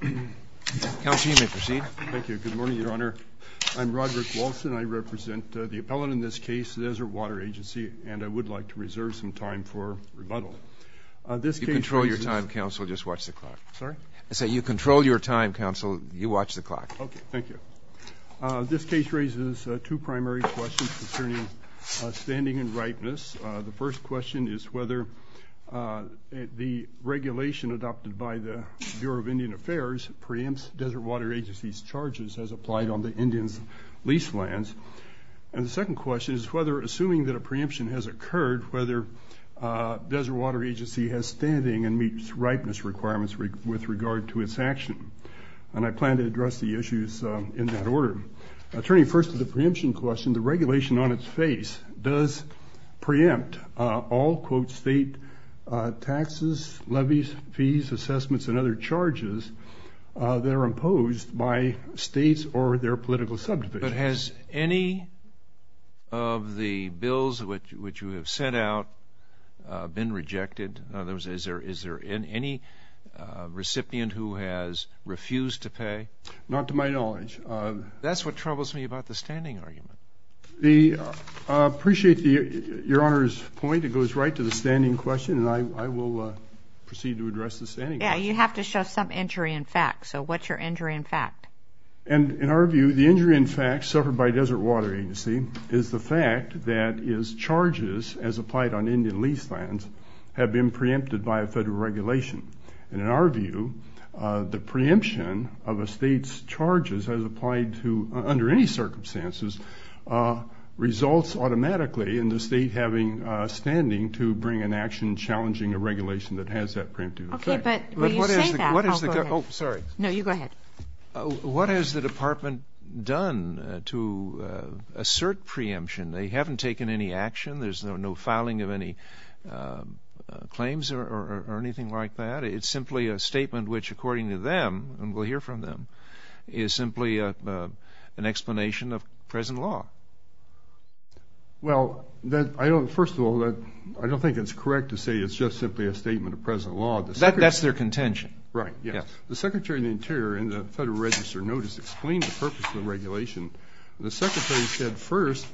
Counsel, you may proceed. Thank you. Good morning, Your Honor. I'm Roderick Walson. I represent the appellant in this case, the Desert Water Agency, and I would like to reserve some time for rebuttal. You control your time, counsel. Just watch the clock. Sorry? I said you control your time, counsel. You watch the clock. Okay, thank you. This case raises two primary questions concerning standing and ripeness. The first question is whether the regulation adopted by the Bureau of Indian Affairs preempts Desert Water Agency's charges as applied on the Indians' lease lands. And the second question is whether, assuming that a preemption has occurred, whether Desert Water Agency has standing and meets ripeness requirements with regard to its action. And I plan to address the issues in that order. Turning first to the preemption question, the charges that are imposed by states or their political subdivisions. But has any of the bills which you have sent out been rejected? In other words, is there any recipient who has refused to pay? Not to my knowledge. That's what troubles me about the standing argument. I appreciate Your Honor's point. It goes right to the standing question and I will proceed to address the standing question. Yeah, you have to show some injury in fact. So what's your injury in fact? And in our view, the injury in fact suffered by Desert Water Agency is the fact that its charges as applied on Indian lease lands have been preempted by a federal regulation. And in our view, the preemption of a state's charges as applied to, under any bring an action challenging a regulation that has that preemptive effect. Okay, but when you say that, I'll go ahead. Oh, sorry. No, you go ahead. What has the department done to assert preemption? They haven't taken any action. There's no filing of any claims or anything like that. It's simply a statement which according to them, and we'll hear from them, is simply an explanation of present law. Well, I don't, first of all, I don't think it's correct to say it's just simply a statement of present law. That's their contention. Right, yes. The Secretary of the Interior in the Federal Register notice explained the purpose of the regulation. The Secretary said first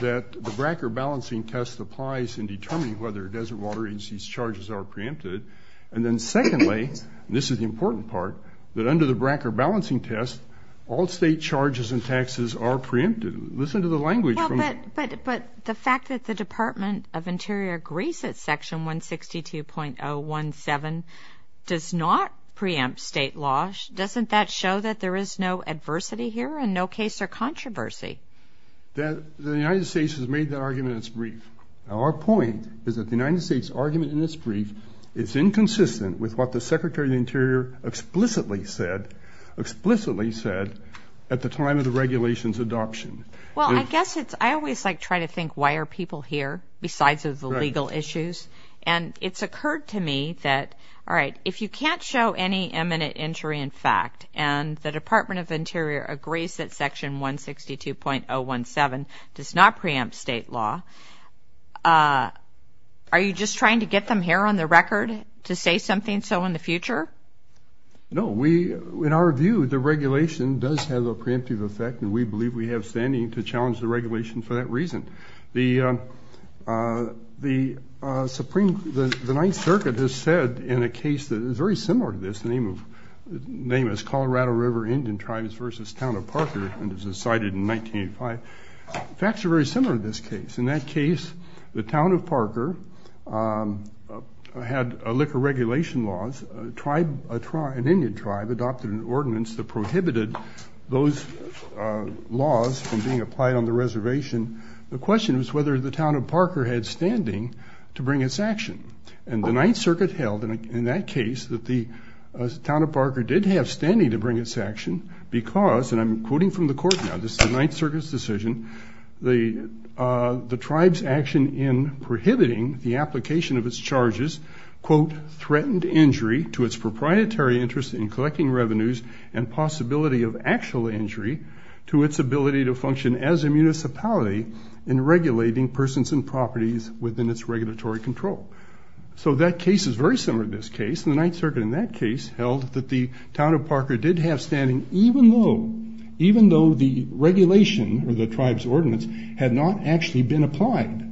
that the Bracker balancing test applies in determining whether Desert Water Agency's charges are preempted. And then secondly, this is the important part, that under the Bracker balancing test, all state charges and taxes are preempted. Listen to the language. But the fact that the Secretary of the Interior agrees that Section 162.017 does not preempt state laws, doesn't that show that there is no adversity here and no case or controversy? The United States has made that argument in its brief. Our point is that the United States argument in this brief is inconsistent with what the Secretary of the Interior explicitly said, explicitly said at the time of the regulations adoption. Well, I guess it's, I always like try to think why are people here besides of the legal issues? And it's occurred to me that, all right, if you can't show any eminent injury in fact, and the Department of Interior agrees that Section 162.017 does not preempt state law, are you just trying to get them here on the record to say something so in the future? No, we, in our view, the regulation does have a preemptive effect and we believe we have standing to challenge the regulation for that reason. The Supreme, the Ninth Circuit has said in a case that is very similar to this, the name of, the name is Colorado River Indian Tribes versus Town of Parker and it was decided in 1985. Facts are very similar in this case. In that case, the Town of Parker had liquor regulation laws, a tribe, an Indian tribe adopted an ordinance that prohibited those laws from being applied on the reservation. The question was whether the Town of Parker had standing to bring its action and the Ninth Circuit held, in that case, that the Town of Parker did have standing to bring its action because, and I'm quoting from the court now, this is the Ninth Circuit's decision, the tribe's action in prohibiting the application of its charges, quote, threatened injury to its proprietary interest in collecting revenues and possibility of actual injury to its ability to function as a municipality in regulating persons and properties within its regulatory control. So that case is very similar to this case and the Ninth Circuit, in that case, held that the Town of Parker did have standing even though, even though the regulation or the tribe's ordinance had not actually been applied.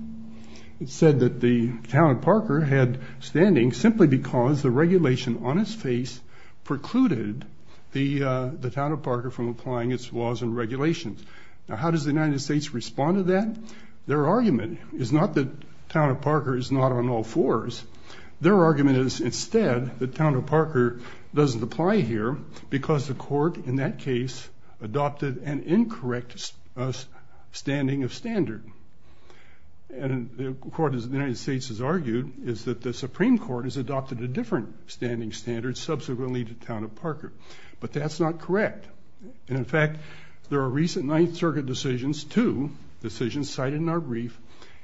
It said that the Town of Parker had standing simply because the regulation on its face precluded the the Town of Parker from applying its laws and regulations. Now how does the United States respond to that? Their argument is not that Town of Parker is not on all fours. Their argument is instead that Town of Parker doesn't apply here because the court, in that case, adopted an incorrect standing of the Supreme Court has adopted a different standing standard subsequently to Town of Parker. But that's not correct. And in fact, there are recent Ninth Circuit decisions, two decisions cited in our brief,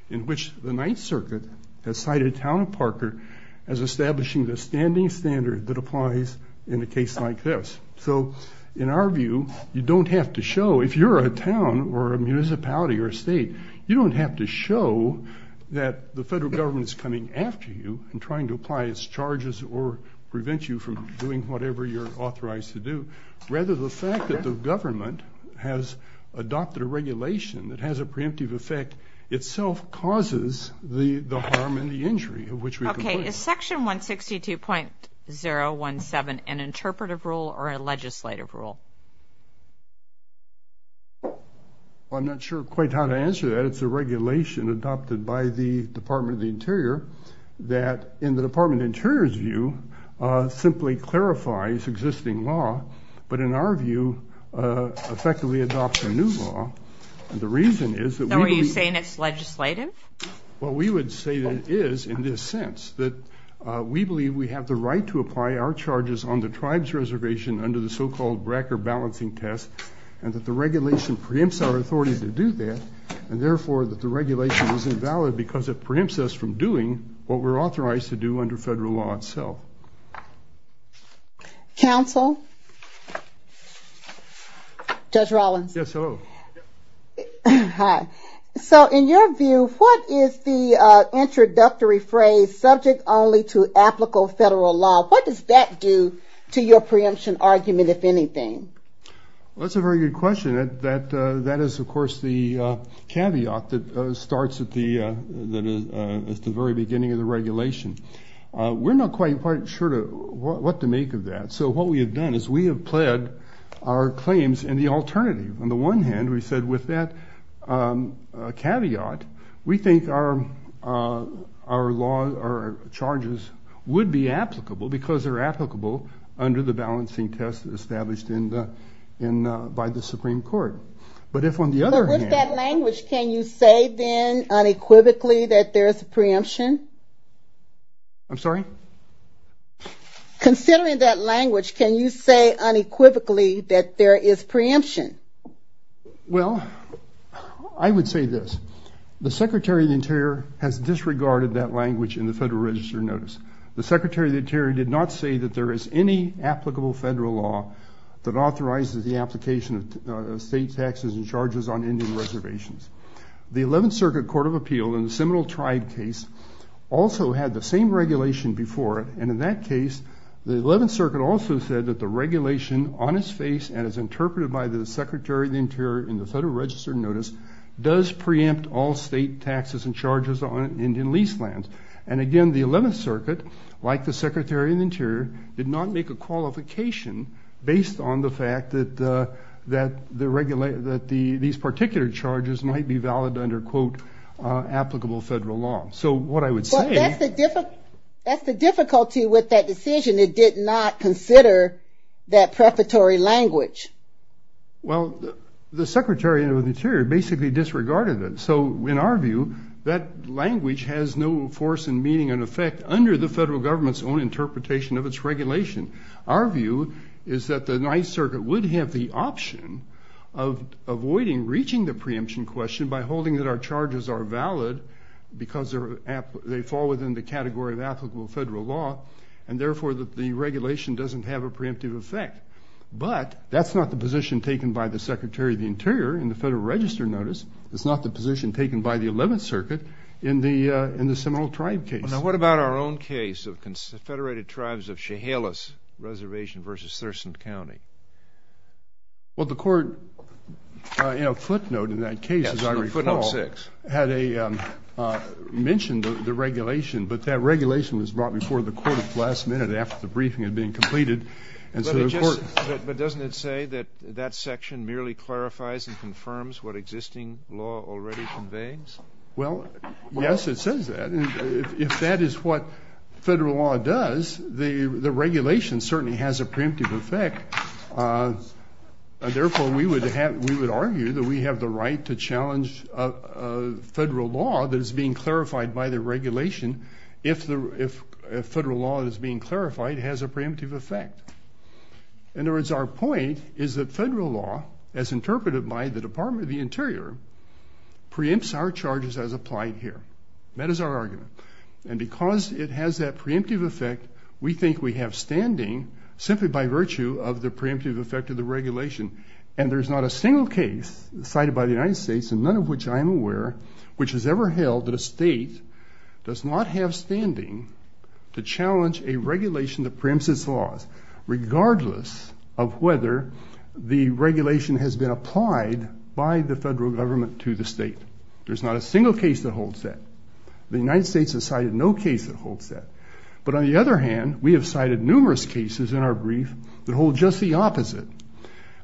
in which the Ninth Circuit has cited Town of Parker as establishing the standing standard that applies in a case like this. So in our view, you don't have to show, if you're a town or a municipality or a state, you don't have to show that the federal government is coming after you and trying to apply its charges or prevent you from doing whatever you're authorized to do. Rather, the fact that the government has adopted a regulation that has a preemptive effect itself causes the harm and the injury of which we complain. Okay, is section 162.017 an interpretive rule or a legislative rule? I'm not sure quite how to answer that. It's a regulation adopted by the Interior that, in the Department of the Interior's view, simply clarifies existing law, but in our view, effectively adopts a new law. And the reason is that... So are you saying it's legislative? Well, we would say that it is in this sense, that we believe we have the right to apply our charges on the tribe's reservation under the so-called Brecker balancing test, and that the regulation preempts our authority to do that, and therefore that the regulation is invalid because it preempts us from doing what we're authorized to do under federal law itself. Counsel? Judge Rollins? Yes, hello. Hi. So in your view, what is the introductory phrase, subject only to applicable federal law? What does that do to your preemption argument, if anything? That's a very good question. That is, of course, the caveat that starts at the very beginning of the regulation. We're not quite sure what to make of that. So what we have done is we have pled our claims in the alternative. On the one hand, we said, with that caveat, we think our charges would be applicable because they're applicable under the balancing test established by the Supreme Court. But if on the other hand... But with that language, can you say then unequivocally that there is a preemption? I'm sorry? Considering that language, can you say unequivocally that there is preemption? Well, I would say this. The Secretary of the Interior has disregarded that language in the Federal Register notice. The 11th Circuit Court of Appeal, in the Seminole Tribe case, also had the same regulation before it. And in that case, the 11th Circuit also said that the regulation, on its face and as interpreted by the Secretary of the Interior in the Federal Register notice, does preempt all state taxes and charges on Indian lease lands. And again, the 11th Circuit, like the based on the fact that these particular charges might be valid under applicable federal law. So what I would say... But that's the difficulty with that decision. It did not consider that prefatory language. Well, the Secretary of the Interior basically disregarded it. So in our view, that language has no force and meaning and effect under the federal law. What I would say is that the 9th Circuit would have the option of avoiding reaching the preemption question by holding that our charges are valid because they fall within the category of applicable federal law. And therefore, the regulation doesn't have a preemptive effect. But that's not the position taken by the Secretary of the Interior in the Federal Register notice. It's not the position taken by the 11th Circuit in the Seminole Tribe case. Now, what about our own case of federated tribes of Chehalis Reservation versus Thurston County? Well, the court... Footnote in that case, as I recall... Yes, footnote six. Had a... Mentioned the regulation, but that regulation was brought before the court at the last minute after the briefing had been completed. And so the court... But doesn't it say that that section merely clarifies and confirms what existing law already conveys? Well, yes, it says that. If that is what federal law does, the regulation certainly has a preemptive effect. Therefore, we would argue that we have the right to challenge federal law that is being clarified by the regulation if federal law that is being clarified has a preemptive effect. In other words, our point is that federal law, as interpreted by the Department of the Interior, preempts our charges as applied here. That is our argument. And because it has that preemptive effect, we think we have standing simply by virtue of the preemptive effect of the regulation. And there's not a single case cited by the United States, and none of which I am aware, which has ever held that a state does not have standing to challenge a regulation that preempts its laws, regardless of whether the regulation has been applied by the federal government to the state. There's not a single case that holds that. The United States has cited no case that holds that. But on the other hand, we have cited numerous cases in our brief that hold just the opposite,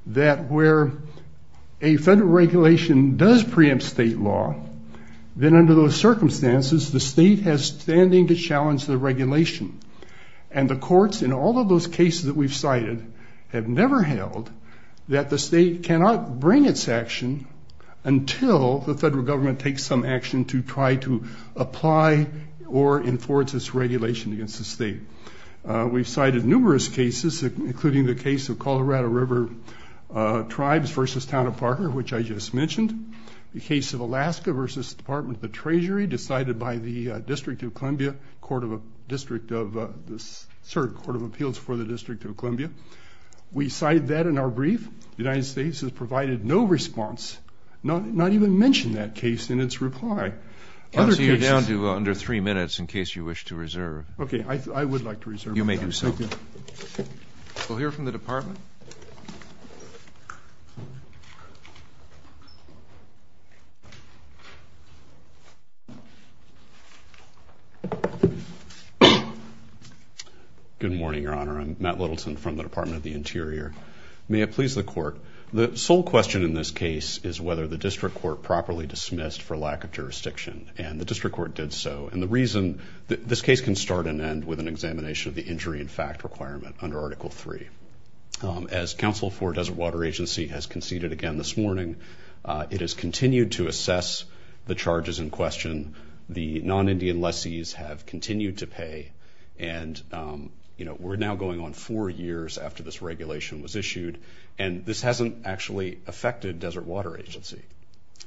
that where a federal regulation does preempt state law, then under those circumstances, the state has standing to challenge the regulation. And the courts in all of those cases that we've cited have never held that the state cannot bring its action until the federal government takes some action to try to apply or enforce its regulation against the state. We've cited numerous cases, including the case of Colorado River Tribes versus Town of Parker, which I just mentioned. The case of Alaska versus the Department of the Treasury, decided by the District of Columbia, Court of Appeals for the District of Columbia. We cited that in our brief. The United States has provided no response, not even mentioned that case in its reply. Other cases... I'll see you down to under three minutes, in case you wish to reserve. Okay, I would like to reserve my time. You may do so. Thank you. We'll hear from the Department. Good morning, Your Honor. I'm Matt Littleton from the Department of the Interior. May it please the Court. The sole question in this case is whether the District Court properly dismissed for lack of jurisdiction, and the District Court did so. And the reason... This case can start and end with an examination of the injury and fact requirement under Article III. As counsel for Desert Water Agency has conceded again this morning, it has continued to assess the charges in question. The non Indian lessees have continued to pay. And we're now going on four years after this regulation was issued, and this hasn't actually affected Desert Water Agency.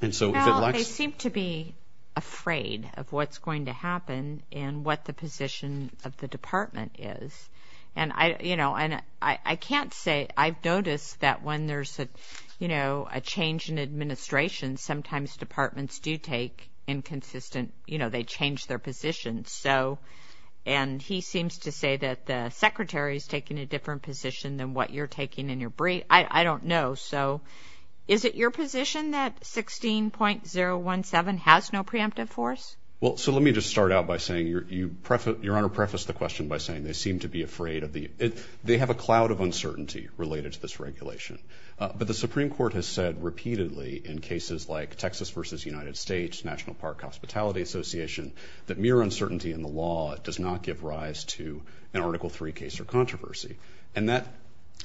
And so if it lacks... Well, they seem to be afraid of what's going to happen and what the position of the Department is. And I can't say... I've noticed that when there's a change in administration, sometimes departments do take inconsistent... They change their positions. And he seems to say that the Secretary's taking a different position than what you're taking in your brief. I don't know. So is it your position that 16.017 has no preemptive force? Well, so let me just start out by saying, Your Honor prefaced the question by saying they seem to be afraid of the... They have a cloud of uncertainty related to this regulation. But the Supreme Court has said repeatedly in cases like Texas versus United States, National Park Hospitality Association, that mere uncertainty in the law does not give rise to an Article III case or controversy. And that,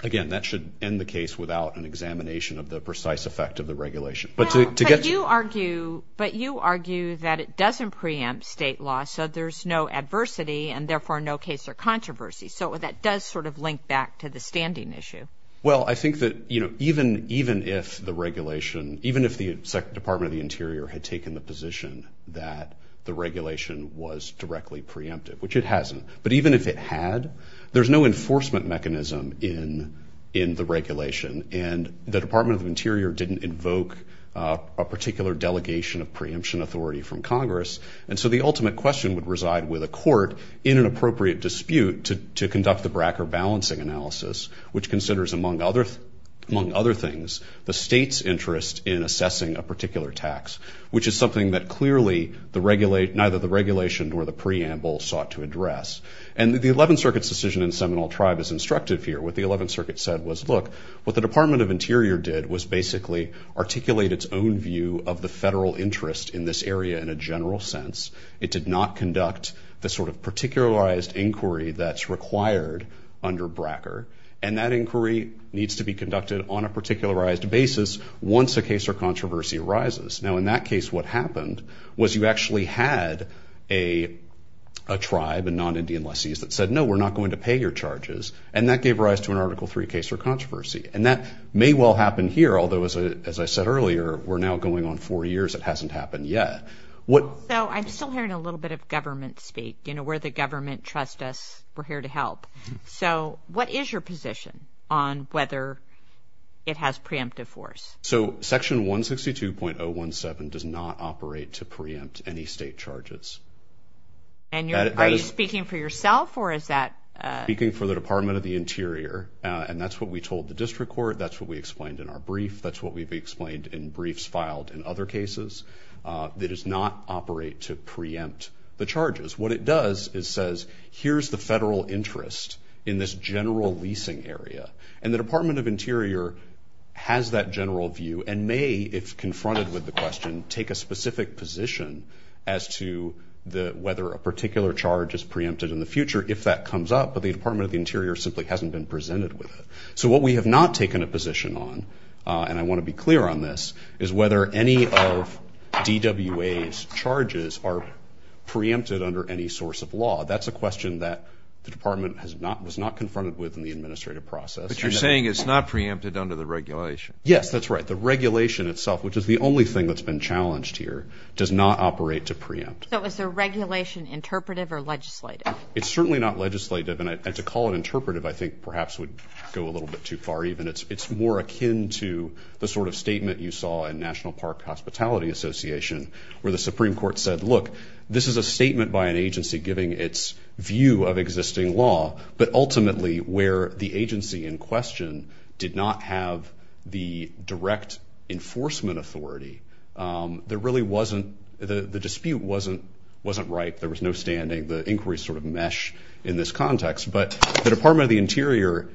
again, that should end the case without an examination of the precise effect of the regulation. But to get... But you argue that it doesn't preempt state law, so there's no adversity and therefore no case or controversy. So that does sort of link back to the standing issue. Well, I think that even if the regulation, even if the Department of the Interior had taken the position that the regulation was directly preemptive, which it hasn't, but even if it had, there's no enforcement mechanism in the regulation. And the Department of the Interior didn't invoke a particular delegation of preemption authority from Congress. And so the ultimate question would reside with a court in an appropriate dispute to conduct the BRAC or balancing analysis, which considers, among other things, the state's interest in assessing a particular tax, which is something that clearly neither the regulation nor the preamble sought to address. And the 11th Circuit's decision in Seminole Tribe is instructive here. What the 11th Circuit said was, look, what the Department of Interior did was basically articulate its own view of the federal interest in this area in a general sense. It did not conduct the sort of particularized inquiry that's required under BRAC or... And that inquiry needs to be conducted on a particularized basis once a case or controversy arises. Now, in that case, what happened was you actually had a tribe, a non Indian lessee, that said, no, we're not going to pay your charges. And that gave rise to an Article III case or controversy. And that may well happen here, although, as I said earlier, we're now going on four years, it hasn't happened yet. So I'm still hearing a little bit of government speak, where the government trusts us, we're here to help. So what is your position on whether it has preemptive force? So Section 162.017 does not operate to preempt any state charges. Are you speaking for yourself or is that... Speaking for the Department of the Interior, and that's what we told the district court, that's what we explained in our brief, that's what we've explained in briefs filed in other cases. It does not operate to preempt the charges. What it does is says, here's the federal interest in this general leasing area. And the Department of Interior has that general view and may, if confronted with the question, take a specific position as to whether a particular charge is preempted in the future, if that comes up, but the Department of the Interior simply hasn't been presented with it. So what we have not taken a position on, and I wanna be clear on this, is whether any of DWA's charges are preempted under any source of law. That's a question that the department was not confronted with in the administrative process. But you're saying it's not preempted under the regulation. Yes, that's right. The regulation itself, which is the only thing that's been challenged here, does not operate to preempt. So is the regulation interpretive or legislative? It's certainly not legislative and to call it interpretive, I think perhaps would go a little bit too far even. It's more akin to the sort of statement you saw in National Park Hospitality Association, where the Supreme Court said, look, this is a case where the agency in question did not have the direct enforcement authority. There really wasn't... The dispute wasn't right, there was no standing, the inquiries sort of mesh in this context. But the Department of the Interior...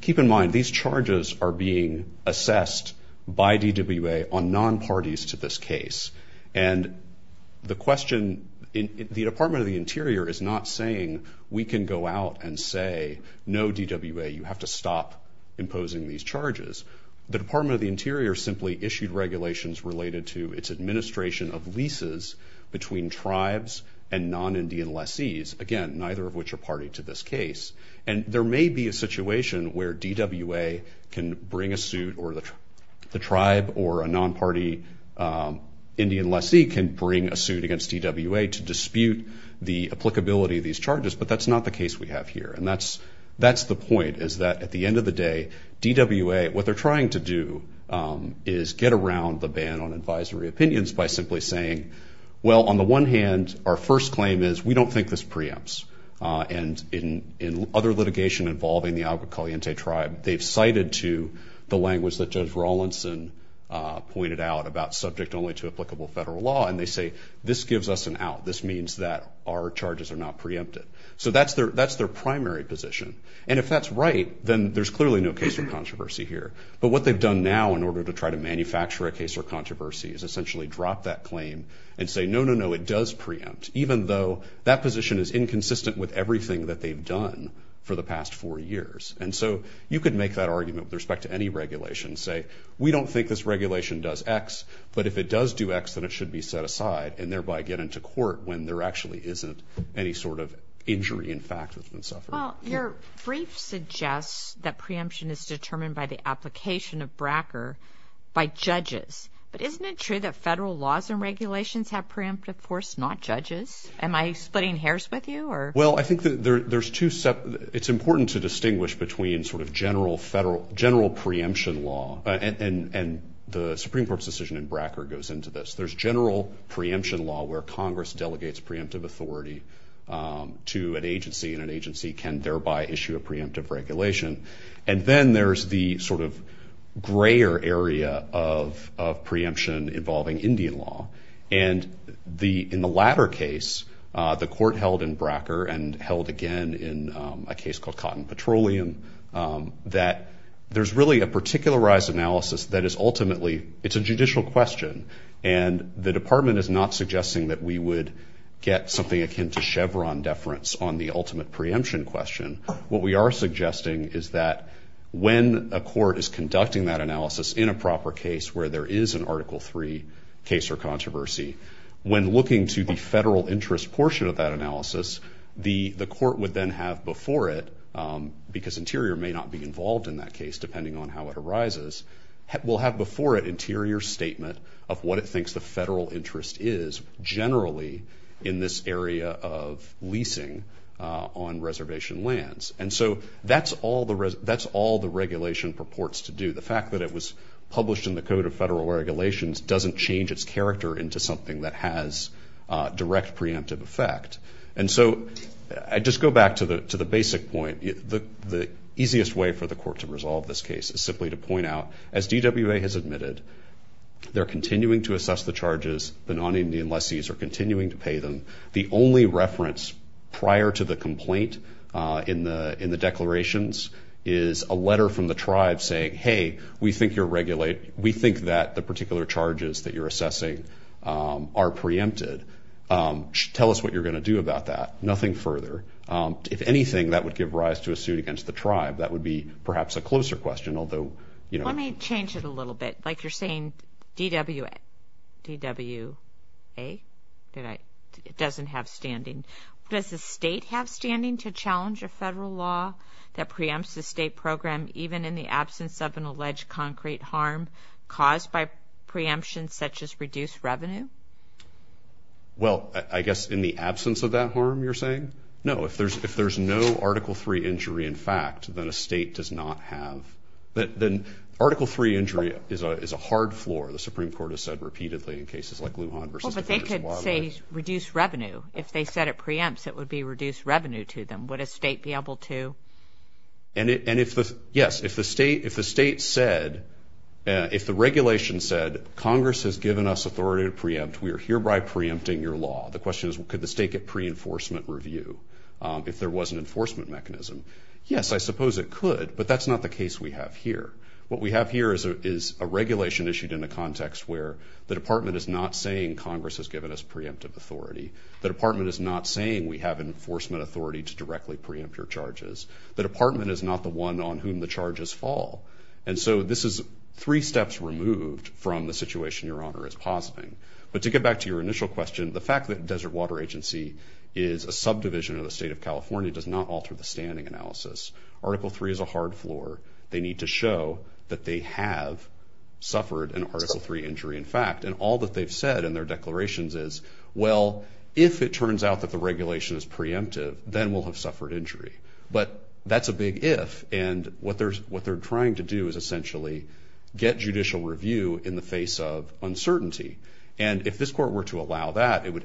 Keep in mind, these charges are being assessed by DWA on non parties to this case. And the question... The Department of the Interior is not saying, we can go out and say, no, DWA, you have to stop imposing these charges. The Department of the Interior simply issued regulations related to its administration of leases between tribes and non Indian lessees, again, neither of which are party to this case. And there may be a situation where DWA can bring a suit or the tribe or a non party Indian lessee can bring a suit against DWA to dispute the applicability of these charges, but that's not the case we have here. And that's the point, is that at the end of the day, DWA, what they're trying to do is get around the ban on advisory opinions by simply saying, well, on the one hand, our first claim is, we don't think this preempts. And in other litigation involving the Agua Caliente tribe, they've cited to the language that Judge Rawlinson pointed out about subject only to applicable federal law, and they say, this gives us an out, this means that our charges are not preempted. So that's their primary position. And if that's right, then there's clearly no case or controversy here. But what they've done now in order to try to manufacture a case or controversy is essentially drop that claim and say, no, no, no, it does preempt, even though that position is inconsistent with everything that they've done for the past four years. And so you could make that argument with respect to any regulation, say, we don't think this regulation does X, but if it does do X, then it should be set aside and thereby get into court when there actually isn't any sort of injury in fact that's been suffered. Well, your brief suggests that preemption is determined by the application of bracker by judges. But isn't it true that federal laws and regulations have preemptive force, not judges? Am I splitting hairs with you or... Well, I think there's two... It's important to distinguish between sort of general federal... General preemption law and the Supreme Court's decision in bracker goes into this. There's general preemption law where Congress delegates preemptive authority to an agency and an agency can thereby issue a preemptive regulation. And then there's the sort of grayer area of preemption involving Indian law. And in the latter case, the court held in bracker and held again in a case called Cotton Petroleum that there's really a particularized analysis that is ultimately... It's a judicial question and the department is not suggesting that we would get something akin to Chevron deference on the ultimate preemption question. What we are suggesting is that when a court is conducting that analysis in a proper case where there is an Article III case or controversy, when looking to the federal interest portion of that analysis, the court would then have before it, because Interior may not be involved in that case depending on how it arises, will have before it Interior's statement of what it thinks the federal interest is generally in this area of leasing on reservation lands. And so that's all the regulation purports to do. The fact that it was published in the Code of Federal Regulations doesn't change its character into something that has direct preemptive effect. And so I just go back to the basic point. The easiest way for the court to resolve this case is simply to point out, as DWA has admitted, they're continuing to assess the charges, the non Indian lessees are continuing to pay them. The only reference prior to the complaint in the declarations is a letter from the tribe saying, Hey, we think you're regulate... We think that the particular charges that you're assessing are preempted. Tell us what you're gonna do about that. Nothing further. If anything, that would give rise to a suit against the tribe. That would be perhaps a closer question, although... Let me change it a little bit. Like you're saying, DWA. DWA? It doesn't have standing. Does the state have standing to challenge a federal law that in the absence of an alleged concrete harm caused by preemption, such as reduced revenue? Well, I guess in the absence of that harm you're saying? No. If there's no Article Three injury in fact, then a state does not have... Then Article Three injury is a hard floor, the Supreme Court has said repeatedly in cases like Lujan versus Defenders of Wildlife. But they could say reduced revenue. If they said it preempts, it would be reduced revenue to them. Would a state be able to do that? If the state said... If the regulation said, Congress has given us authority to preempt, we are hereby preempting your law. The question is, could the state get pre enforcement review if there was an enforcement mechanism? Yes, I suppose it could, but that's not the case we have here. What we have here is a regulation issued in a context where the department is not saying Congress has given us preemptive authority. The department is not saying we have enforcement authority to directly preempt your charges. The department is not the one on whom the charges fall. And so this is three steps removed from the situation Your Honor is positing. But to get back to your initial question, the fact that Desert Water Agency is a subdivision of the state of California does not alter the standing analysis. Article Three is a hard floor. They need to show that they have suffered an Article Three injury in fact. And all that they've said in their declarations is, well, if it turns out that the regulation is preemptive, then we'll have suffered injury. But that's a big if. And what they're trying to do is essentially get judicial review in the face of uncertainty. And if this court were to allow that, it would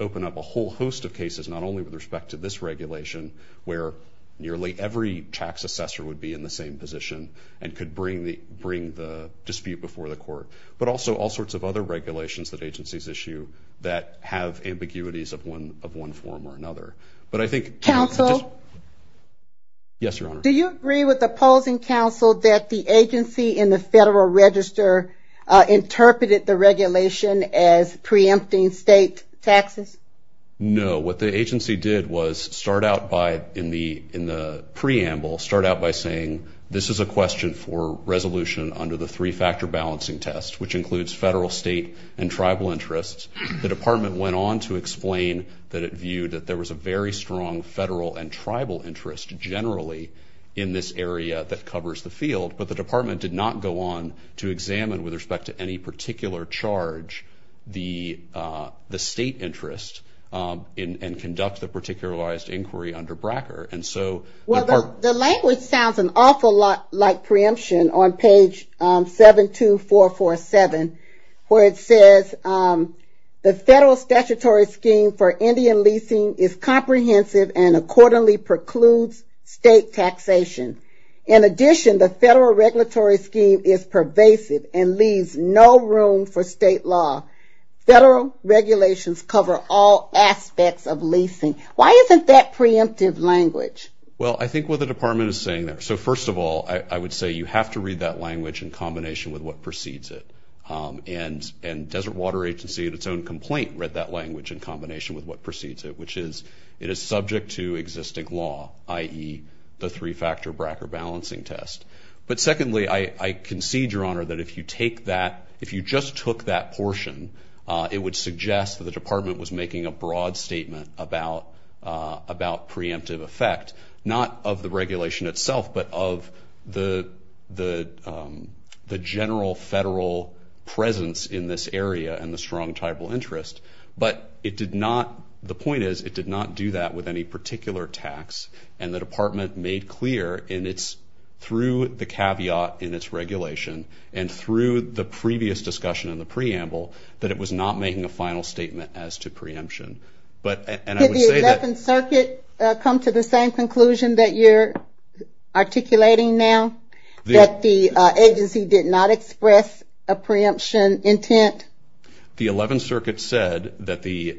open up a whole host of cases, not only with respect to this regulation, where nearly every tax assessor would be in the same position and could bring the dispute before the court, but also all sorts of other regulations that agencies issue that have ambiguities of one form or another. But I think... Counsel? Yes, Your Honor. Do you agree with opposing counsel that the agency in the Federal Register interpreted the regulation as preempting state taxes? No. What the agency did was start out by, in the preamble, start out by saying, this is a question for resolution under the three factor balancing test, which includes federal, state, and tribal interests. The department went on to explain that it viewed that there was a very strong federal and tribal interest, generally, in this area that covers the field. But the department did not go on to examine, with respect to any particular charge, the state interest and conduct the particularized inquiry under Bracker. And so... Well, the language sounds an awful lot like preemption on page 72447, where it says, the federal statutory scheme for Indian leasing is comprehensive and accordingly precludes state taxation. In addition, the federal regulatory scheme is pervasive and leaves no room for state law. Federal regulations cover all aspects of leasing. Why isn't that preemptive language? Well, I think what the department is saying there... So first of all, I would say you have to read that language in combination with what precedes it. And Desert Water Agency, in its own complaint, read that language in combination with what precedes it, which is, it is subject to existing law, i.e. the three factor Bracker balancing test. But secondly, I concede, Your Honor, that if you take that... If you just took that portion, it would suggest that the department was making a broad statement about preemptive effect, not of the regulation itself, but of the general federal presence in this area and the strong tribal interest. But it did not... The point is, it did not do that with any particular tax. And the department made clear in its... Through the caveat in its regulation and through the previous discussion in the preamble, that it was not making a final statement as to preemption. But... And I would say that... Did the 11th Circuit come to the same conclusion that you're articulating now? That the agency did not express a preemption intent? The 11th Circuit said that the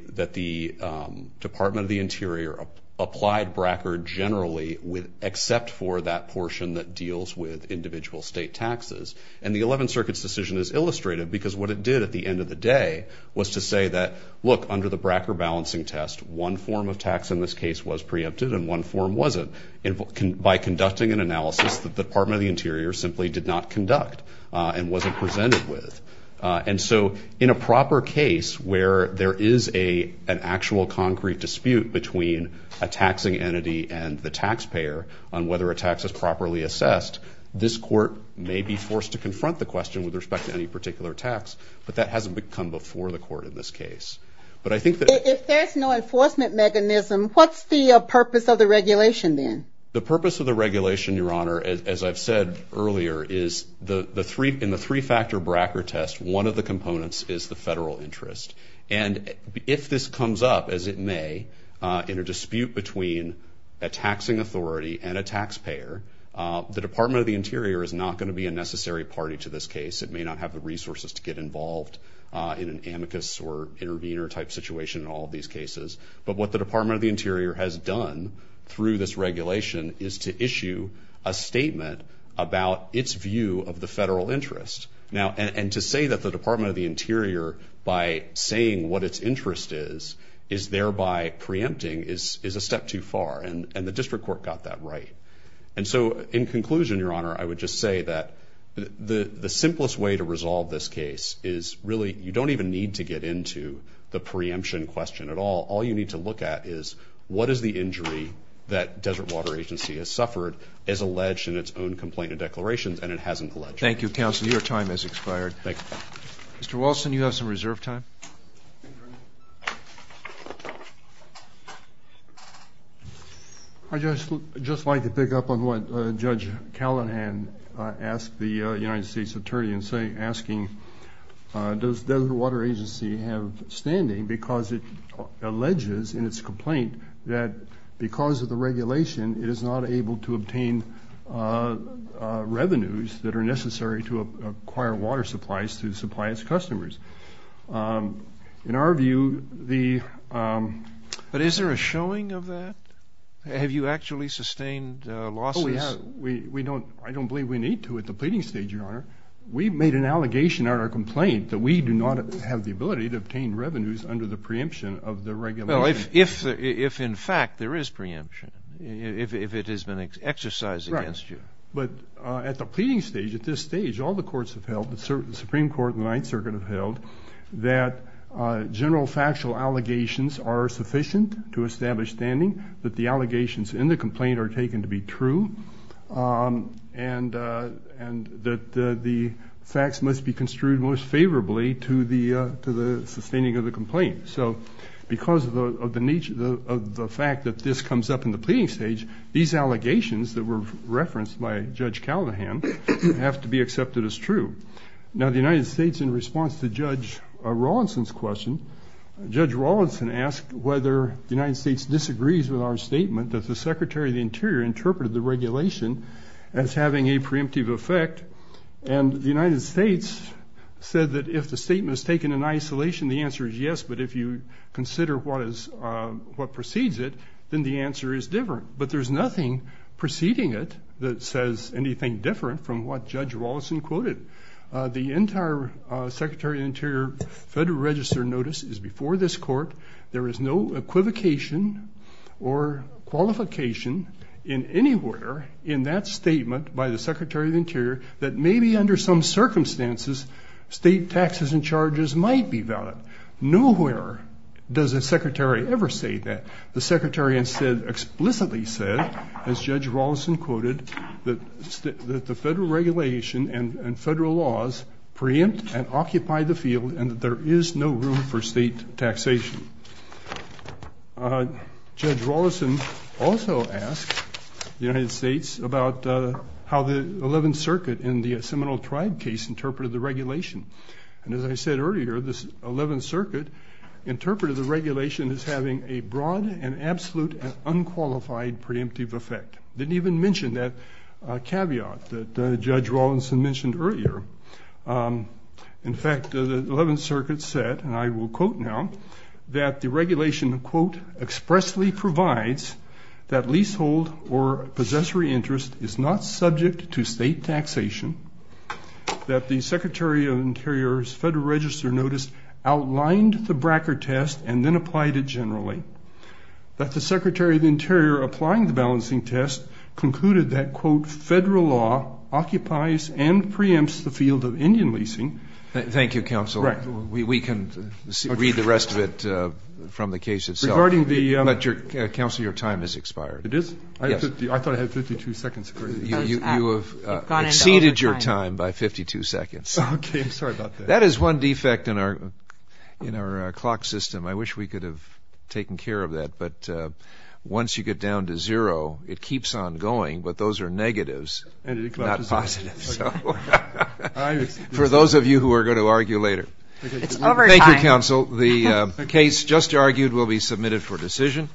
Department of the Interior applied Bracker generally except for that portion that deals with individual state taxes. And the 11th Circuit's decision is illustrative because what it did at the end of the day was to say that, look, under the Bracker balancing test, one form of tax in one form wasn't. And by conducting an analysis, the Department of the Interior simply did not conduct and wasn't presented with. And so in a proper case where there is an actual concrete dispute between a taxing entity and the taxpayer on whether a tax is properly assessed, this court may be forced to confront the question with respect to any particular tax, but that hasn't become before the court in this case. But I think that... If there's no enforcement mechanism, what's the purpose of the regulation then? The purpose of the regulation, Your Honor, as I've said earlier, is the three... In the three factor Bracker test, one of the components is the federal interest. And if this comes up, as it may, in a dispute between a taxing authority and a taxpayer, the Department of the Interior is not gonna be a necessary party to this case. It may not have the resources to get involved in an amicus or intervener type situation in all of these cases. But what the Department of the Interior has done through this regulation is to issue a statement about its view of the federal interest. And to say that the Department of the Interior, by saying what its interest is, is thereby preempting is a step too far, and the district court got that right. And so in conclusion, Your Honor, I would just say that the simplest way to resolve this case is really... You don't even need to get into the preemption question at all. All you need to look at is what is the injury that Desert Water Agency has suffered as alleged in its own complaint and declarations, and it hasn't alleged. Thank you, counsel. Your time has expired. Thank you. Mr. Wilson, you have some reserve time. I'd just like to pick up on what Judge Callahan asked the United States Attorney in asking, does Desert Water Agency have standing because it alleges in its complaint that because of the regulation it is not able to obtain revenues that are necessary to acquire water supplies to supply its customers. In our view, the... But is there a showing of that? Have you actually sustained losses? Oh, we have. I don't believe we need to at the pleading stage, Your Honor. We've made an allegation on our complaint that we do not have the ability to obtain revenues under the preemption of the regulation. Well, if in fact there is preemption, if it has been exercised against you. Right. But at the pleading stage, at this stage, all the courts have held, the Supreme Court and the Ninth Circuit have held, that general factual allegations are sufficient to establish standing, that the allegations in the complaint are taken to be true, and that the facts must be construed most favorably to the sustaining of the complaint. So because of the nature of the fact that this comes up in the pleading stage, these allegations that were referenced by Judge Callahan have to be accepted as true. Now, the United States in response to Judge Rawlinson's question, Judge Rawlinson asked whether the United States disagrees with our statement that the Secretary of the Interior interpreted the regulation as having a preemptive effect. And the United States said that if the statement is taken in isolation, the answer is yes, but if you consider what precedes it, then the answer is different. But there's nothing preceding it that says anything different from what Judge Rawlinson quoted. The entire Secretary of the Interior Federal Register notice is before this court. There is no equivocation or qualification in anywhere in that statement by the Secretary of the Interior that maybe under some circumstances, state taxes and charges might be valid. Nowhere does the Secretary ever say that. The Secretary instead explicitly said, as Judge Rawlinson quoted, that the federal regulation and federal laws preempt and occupy the field and that there is no room for state taxation. Judge Rawlinson also asked the United States about how the 11th Circuit in the Seminole Tribe case interpreted the regulation. And as I said earlier, this 11th Circuit interpreted the regulation as having a broad and absolute and unqualified preemptive effect. Didn't even mention that caveat that Judge Rawlinson mentioned earlier. In fact, the 11th Circuit said, and I will quote now, that the regulation, quote, expressly provides that leasehold or possessory interest is not subject to state taxation, that the Secretary of the Interior's Federal Register notice outlined the Bracker test and then applied it generally, that the Secretary of the Interior applying the balancing test concluded that, quote, federal law occupies and preempts the field of Indian leasing. Thank you, Counselor. We can read the rest of it from the case itself. Regarding the... But, Counselor, your time has expired. It is? Yes. I thought I had 52 seconds for it. You have exceeded your time by 52 seconds. Okay. I'm sorry about that. That is one defect in our clock system. I wish we could have taken care of that. But once you get down to zero, it keeps on going, but those are negatives, not positives. Okay. For those of you who are going to argue later. It's over time. Thank you, Counsel. The case just argued will be submitted for decision.